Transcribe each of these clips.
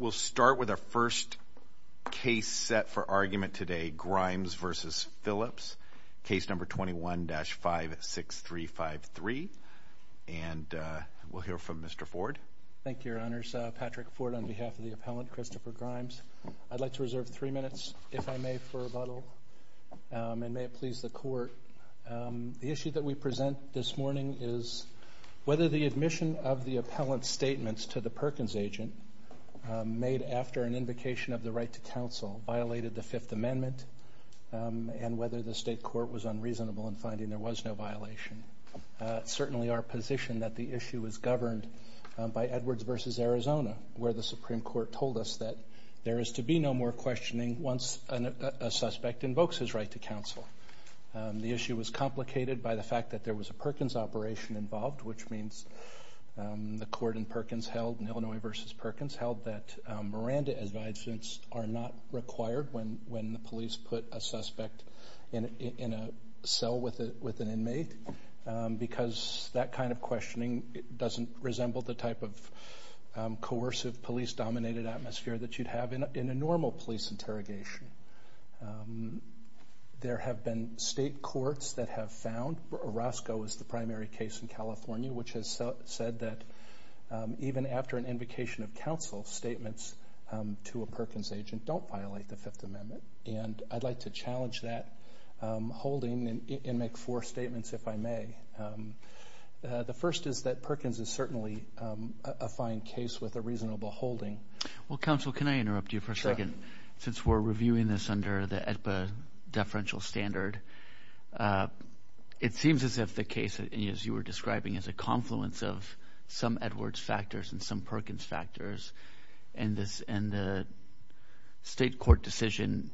We'll start with our first case set for argument today, Grimes v. Phillips, case number 21-56353, and we'll hear from Mr. Ford. Thank you, Your Honors. Patrick Ford on behalf of the appellant, Christopher Grimes. I'd like to reserve three minutes, if I may, for rebuttal, and may it please the Court. The issue that we present this morning is whether the admission of the appellant's statements to the Perkins agent made after an invocation of the right to counsel violated the Fifth Amendment and whether the state court was unreasonable in finding there was no violation. It's certainly our position that the issue was governed by Edwards v. Arizona, where the Supreme Court told us that there is to be no more questioning once a suspect invokes his right to counsel. The issue was complicated by the fact that there was a Perkins operation involved, which means the court in Perkins held, in Illinois v. Perkins, held that Miranda-advised suits are not required when the police put a suspect in a cell with an inmate because that kind of questioning doesn't resemble the type of coercive police-dominated atmosphere that you'd have in a normal police interrogation. There have been state courts that have found Orozco is the primary case in California, which has said that even after an invocation of counsel, statements to a Perkins agent don't violate the Fifth Amendment, and I'd like to challenge that holding and make four statements, if I may. The first is that Perkins is certainly a fine case with a reasonable holding. Well, counsel, can I interrupt you for a second? Sure. Since we're reviewing this under the AEDPA deferential standard, it seems as if the case, as you were describing, is a confluence of some Edwards factors and some Perkins factors, and the state court decision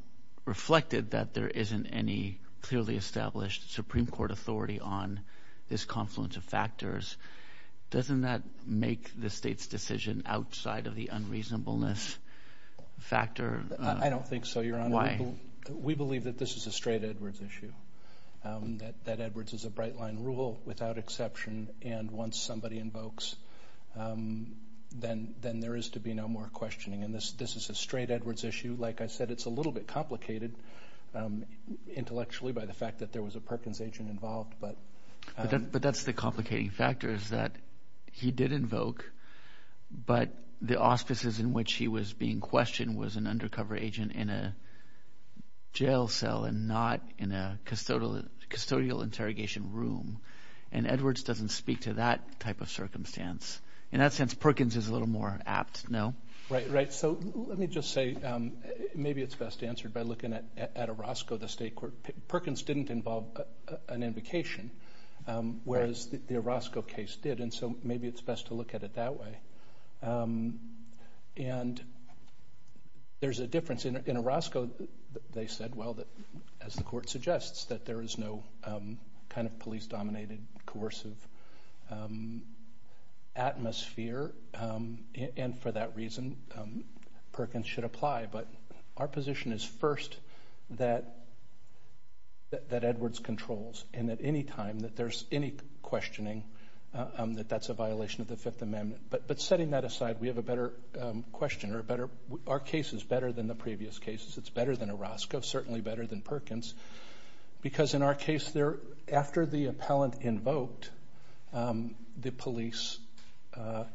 reflected that there isn't any clearly established Supreme Court authority on this confluence of factors. Doesn't that make the state's decision outside of the unreasonableness factor? I don't think so, Your Honor. Why? We believe that this is a straight Edwards issue, that Edwards is a bright-line rule without exception, and once somebody invokes, then there is to be no more questioning, and this is a straight Edwards issue. Like I said, it's a little bit complicated intellectually by the fact that there was a Perkins agent involved. But that's the complicating factor is that he did invoke, but the auspices in which he was being questioned was an undercover agent in a jail cell and not in a custodial interrogation room, and Edwards doesn't speak to that type of circumstance. In that sense, Perkins is a little more apt, no? Right, right. So let me just say maybe it's best answered by looking at Orozco, the state court. Perkins didn't involve an invocation, whereas the Orozco case did, and so maybe it's best to look at it that way. And there's a difference. In Orozco, they said, well, as the court suggests, that there is no kind of police-dominated, coercive atmosphere, and for that reason, Perkins should apply. But our position is first that Edwards controls, and that any time that there's any questioning, that that's a violation of the Fifth Amendment. But setting that aside, we have a better question. Our case is better than the previous cases. It's better than Orozco, certainly better than Perkins, because in our case, after the appellant invoked, the police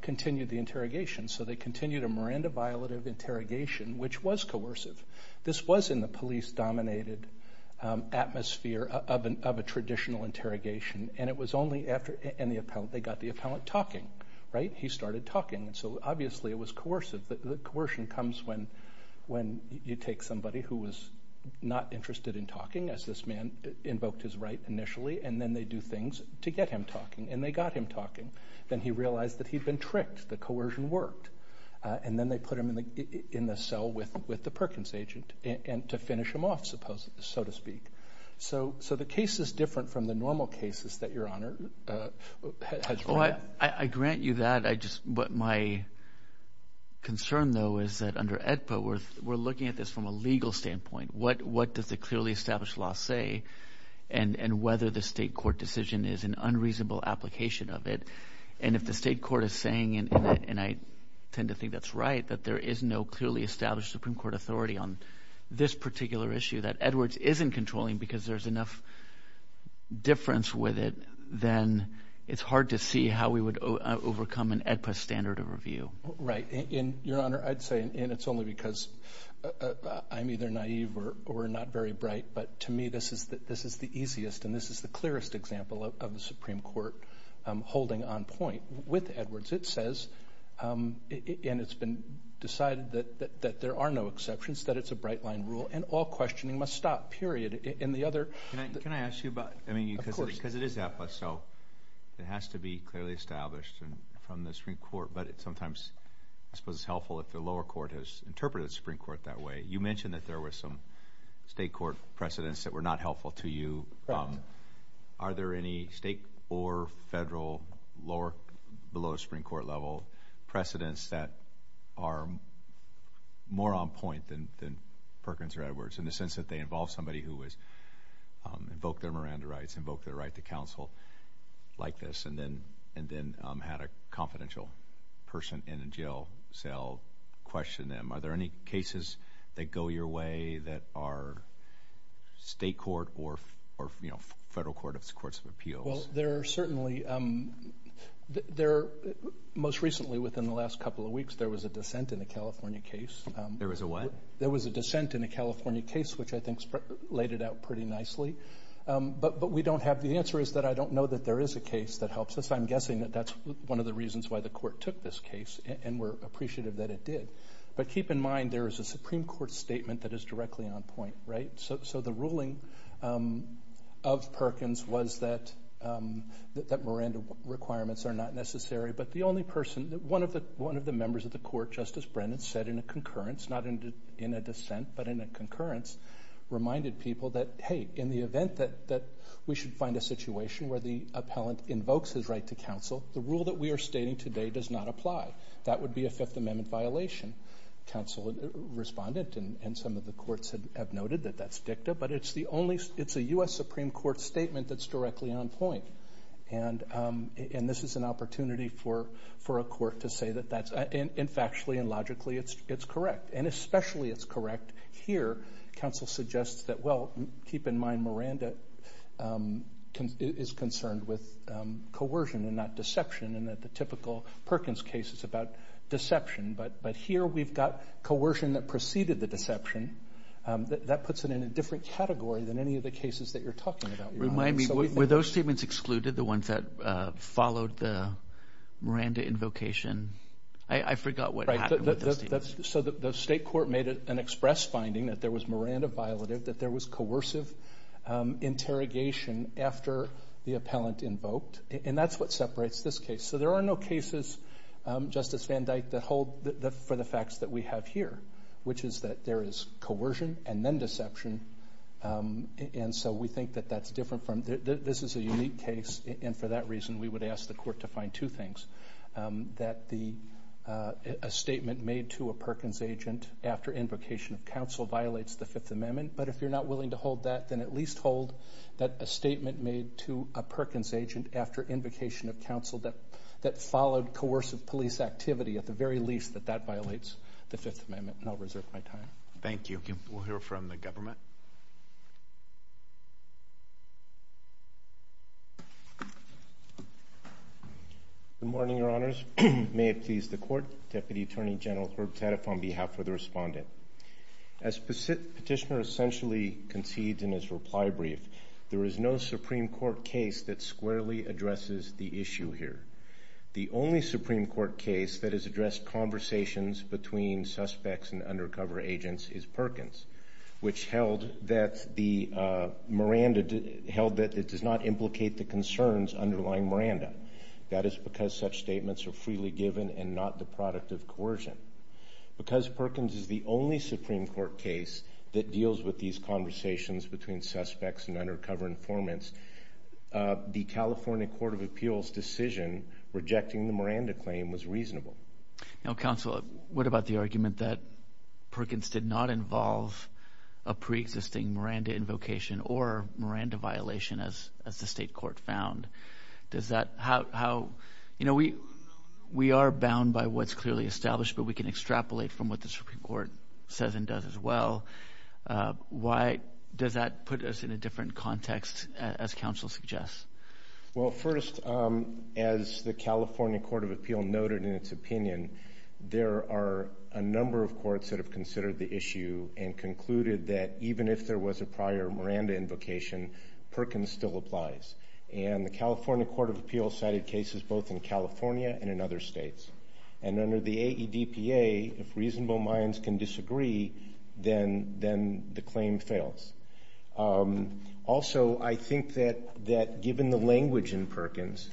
continued the interrogation. So they continued a Miranda violative interrogation, which was coercive. This was in the police-dominated atmosphere of a traditional interrogation, and it was only after they got the appellant talking, right? He started talking, and so obviously it was coercive. The coercion comes when you take somebody who was not interested in talking, as this man invoked his right initially, and then they do things to get him talking, and they got him talking. Then he realized that he'd been tricked. The coercion worked, and then they put him in the cell with the Perkins agent to finish him off, so to speak. So the case is different from the normal cases that Your Honor has brought up. I grant you that. My concern, though, is that under AEDPA, we're looking at this from a legal standpoint. What does the clearly established law say, and whether the state court decision is an unreasonable application of it? If the state court is saying, and I tend to think that's right, that there is no clearly established Supreme Court authority on this particular issue that Edwards isn't controlling because there's enough difference with it, then it's hard to see how we would overcome an AEDPA standard of review. Right. Your Honor, I'd say, and it's only because I'm either naive or not very bright, but to me this is the easiest and this is the clearest example of the Supreme Court holding on point. With Edwards, it says, and it's been decided that there are no exceptions, that it's a bright-line rule, and all questioning must stop, period. Can I ask you about, because it is AEDPA, so it has to be clearly established from the Supreme Court, but sometimes I suppose it's helpful if the lower court has interpreted the Supreme Court that way. You mentioned that there were some state court precedents that were not helpful to you. Correct. Are there any state or federal lower, below the Supreme Court level, precedents that are more on point than Perkins or Edwards in the sense that they involve somebody who has invoked their Miranda rights, invoked their right to counsel like this, and then had a confidential person in a jail cell question them? Are there any cases that go your way that are state court or federal courts of appeals? Most recently, within the last couple of weeks, there was a dissent in a California case. There was a what? There was a dissent in a California case, which I think laid it out pretty nicely, but the answer is that I don't know that there is a case that helps us. I'm guessing that that's one of the reasons why the court took this case, and we're appreciative that it did. But keep in mind, there is a Supreme Court statement that is directly on point, right? So the ruling of Perkins was that Miranda requirements are not necessary, but the only person, one of the members of the court, Justice Brennan, said in a concurrence, not in a dissent, but in a concurrence, reminded people that, hey, in the event that we should find a situation where the appellant invokes his right to counsel, the rule that we are stating today does not apply. That would be a Fifth Amendment violation. Counsel responded, and some of the courts have noted that that's dicta, but it's a U.S. Supreme Court statement that's directly on point, and this is an opportunity for a court to say that that's, and factually and logically, it's correct, and especially it's correct here. Counsel suggests that, well, keep in mind Miranda is concerned with coercion and not deception, and that the typical Perkins case is about deception. But here we've got coercion that preceded the deception. That puts it in a different category than any of the cases that you're talking about. Remind me, were those statements excluded, the ones that followed the Miranda invocation? I forgot what happened with those statements. So the state court made an express finding that there was Miranda violative, that there was coercive interrogation after the appellant invoked, and that's what separates this case. So there are no cases, Justice Van Dyke, that hold for the facts that we have here, which is that there is coercion and then deception, and so we think that that's different from, this is a unique case, and for that reason we would ask the court to find two things, that a statement made to a Perkins agent after invocation of counsel violates the Fifth Amendment, but if you're not willing to hold that, then at least hold that a statement made to a Perkins agent after invocation of counsel that followed coercive police activity at the very least, that that violates the Fifth Amendment, and I'll reserve my time. Thank you. We'll hear from the government. Good morning, Your Honors. May it please the Court. Deputy Attorney General Herb Taddeff on behalf of the respondent. As Petitioner essentially concedes in his reply brief, there is no Supreme Court case that squarely addresses the issue here. The only Supreme Court case that has addressed conversations between suspects and undercover agents is Perkins, which held that it does not implicate the concerns underlying Miranda. That is because such statements are freely given and not the product of coercion. Because Perkins is the only Supreme Court case that deals with these conversations between suspects and undercover informants, the California Court of Appeals' decision rejecting the Miranda claim was reasonable. Counsel, what about the argument that Perkins did not involve a preexisting Miranda invocation or Miranda violation as the state court found? You know, we are bound by what's clearly established, but we can extrapolate from what the Supreme Court says and does as well. Why does that put us in a different context, as counsel suggests? Well, first, as the California Court of Appeals noted in its opinion, there are a number of courts that have considered the issue and concluded that even if there was a prior Miranda invocation, Perkins still applies. And the California Court of Appeals cited cases both in California and in other states. And under the AEDPA, if reasonable minds can disagree, then the claim fails. Also, I think that given the language in Perkins,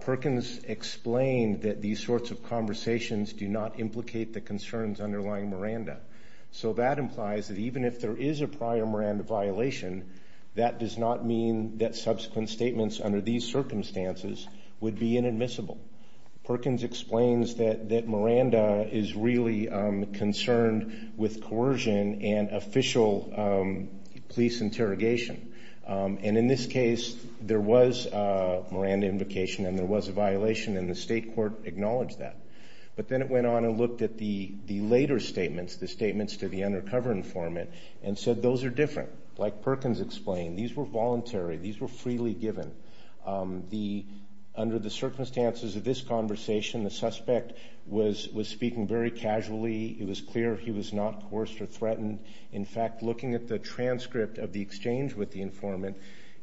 Perkins explained that these sorts of conversations do not implicate the concerns underlying Miranda. So that implies that even if there is a prior Miranda violation, that does not mean that subsequent statements under these circumstances would be inadmissible. Perkins explains that Miranda is really concerned with coercion and official police interrogation. And in this case, there was a Miranda invocation and there was a violation, and the state court acknowledged that. But then it went on and looked at the later statements, the statements to the undercover informant, and said those are different. Like Perkins explained, these were voluntary. These were freely given. Under the circumstances of this conversation, the suspect was speaking very casually. It was clear he was not coerced or threatened. In fact, looking at the transcript of the exchange with the informant,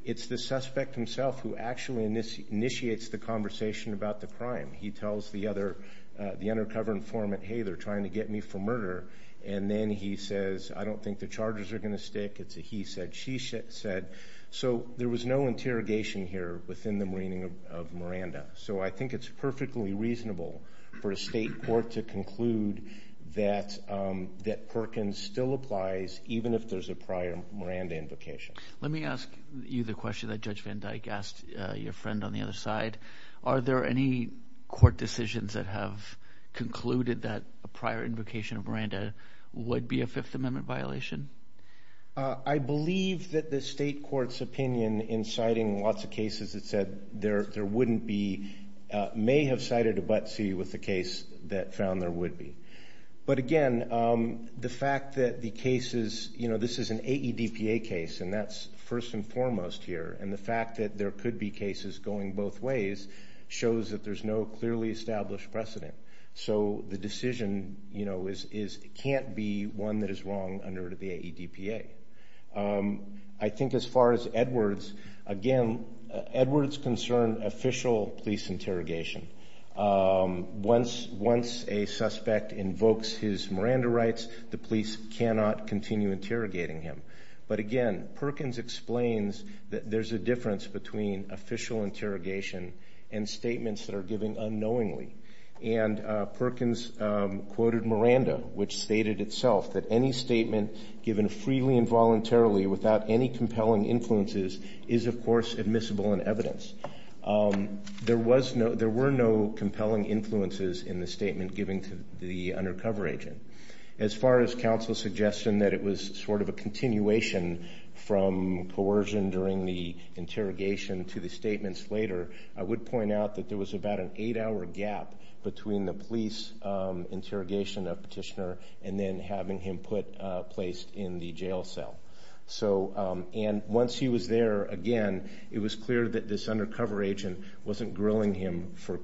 it's the suspect himself who actually initiates the conversation about the crime. He tells the undercover informant, hey, they're trying to get me for murder. And then he says, I don't think the charges are going to stick. It's a he said, she said. So there was no interrogation here within the meaning of Miranda. So I think it's perfectly reasonable for a state court to conclude that Perkins still applies, even if there's a prior Miranda invocation. Let me ask you the question that Judge Van Dyke asked your friend on the other side. Are there any court decisions that have concluded that a prior invocation of Miranda would be a Fifth Amendment violation? I believe that the state court's opinion in citing lots of cases that said there wouldn't be, may have cited a but see with the case that found there would be. But, again, the fact that the cases, you know, this is an AEDPA case, and that's first and foremost here. And the fact that there could be cases going both ways shows that there's no clearly established precedent. So the decision, you know, can't be one that is wrong under the AEDPA. I think as far as Edwards, again, Edwards concerned official police interrogation. Once a suspect invokes his Miranda rights, the police cannot continue interrogating him. But, again, Perkins explains that there's a difference between official interrogation and statements that are given unknowingly. And Perkins quoted Miranda, which stated itself that any statement given freely and voluntarily without any compelling influences is, of course, admissible in evidence. There were no compelling influences in the statement given to the undercover agent. As far as counsel's suggestion that it was sort of a continuation from coercion during the interrogation to the statements later, I would point out that there was about an eight-hour gap between the police interrogation of Petitioner and then having him put, placed in the jail cell. So, and once he was there, again, it was clear that this undercover agent wasn't grilling him for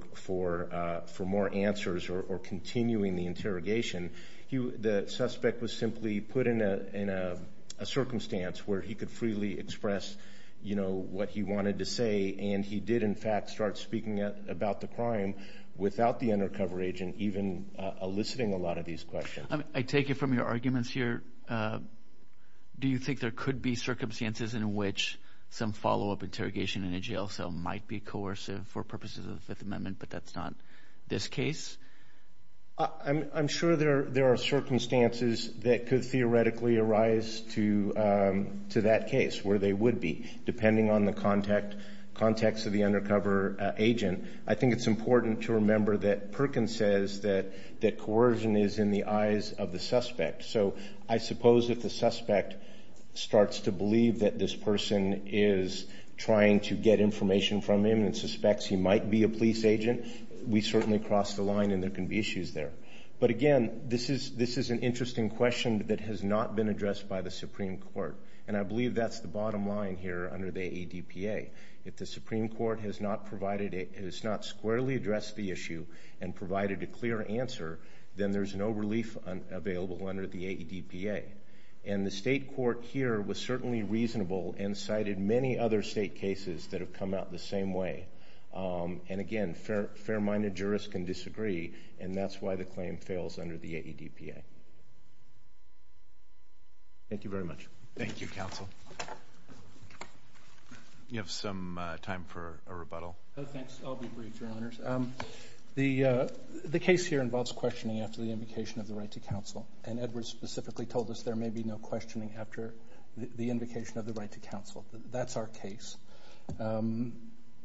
more answers or continuing the interrogation. The suspect was simply put in a circumstance where he could freely express, you know, what he wanted to say. And he did, in fact, start speaking about the crime without the undercover agent even eliciting a lot of these questions. I take it from your arguments here, do you think there could be circumstances in which some follow-up interrogation in a jail cell might be coercive for purposes of the Fifth Amendment, but that's not this case? I'm sure there are circumstances that could theoretically arise to that case where they would be, depending on the context of the undercover agent. I think it's important to remember that Perkins says that coercion is in the eyes of the suspect. So I suppose if the suspect starts to believe that this person is trying to get information from him and suspects he might be a police agent, we certainly cross the line and there can be issues there. But again, this is an interesting question that has not been addressed by the Supreme Court, and I believe that's the bottom line here under the AEDPA. If the Supreme Court has not squarely addressed the issue and provided a clear answer, then there's no relief available under the AEDPA. And the state court here was certainly reasonable and cited many other state cases that have come out the same way. And again, fair-minded jurists can disagree, and that's why the claim fails under the AEDPA. Thank you very much. Thank you, counsel. Do you have some time for a rebuttal? No, thanks. I'll be brief, Your Honors. The case here involves questioning after the invocation of the right to counsel, and Edward specifically told us there may be no questioning after the invocation of the right to counsel. That's our case.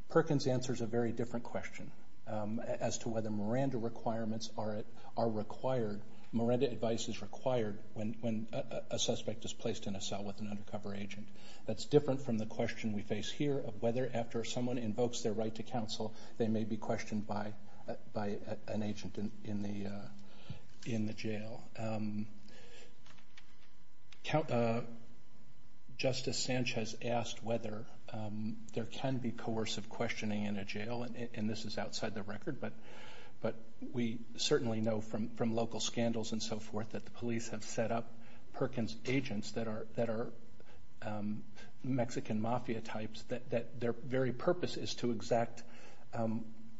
Perkins answers a very different question as to whether Miranda requirements are required. Miranda advice is required when a suspect is placed in a cell with an undercover agent. That's different from the question we face here of whether, after someone invokes their right to counsel, they may be questioned by an agent in the jail. Justice Sanchez asked whether there can be coercive questioning in a jail, and this is outside the record, but we certainly know from local scandals and so forth that the police have set up Perkins agents that are Mexican mafia types, that their very purpose is to exact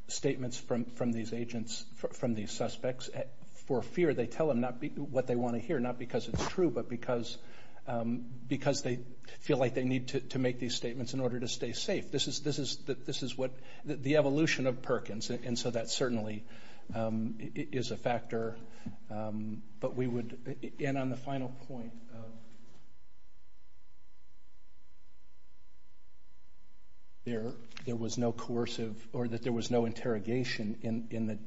statements from these agents, from these suspects, for fear they tell them what they want to hear, not because it's true, but because they feel like they need to make these statements in order to stay safe. This is the evolution of Perkins, and so that certainly is a factor. On the final point, there was no interrogation in the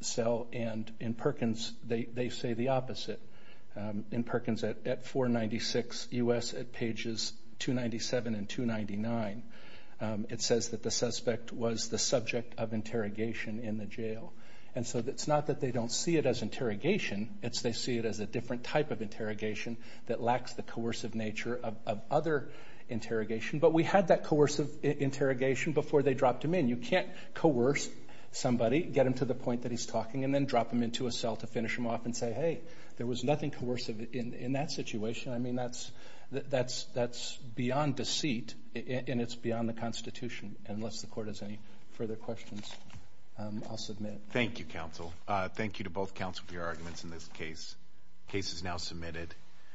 cell, and in Perkins they say the opposite. In Perkins at 496 U.S. at pages 297 and 299, it says that the suspect was the subject of interrogation in the jail. And so it's not that they don't see it as interrogation, it's they see it as a different type of interrogation that lacks the coercive nature of other interrogation. But we had that coercive interrogation before they dropped him in. You can't coerce somebody, get him to the point that he's talking, and then drop him into a cell to finish him off and say, hey, there was nothing coercive in that situation. I mean, that's beyond deceit, and it's beyond the Constitution, unless the court has any further questions. I'll submit. Thank you, counsel. Thank you to both counsel for your arguments in this case. The case is now submitted.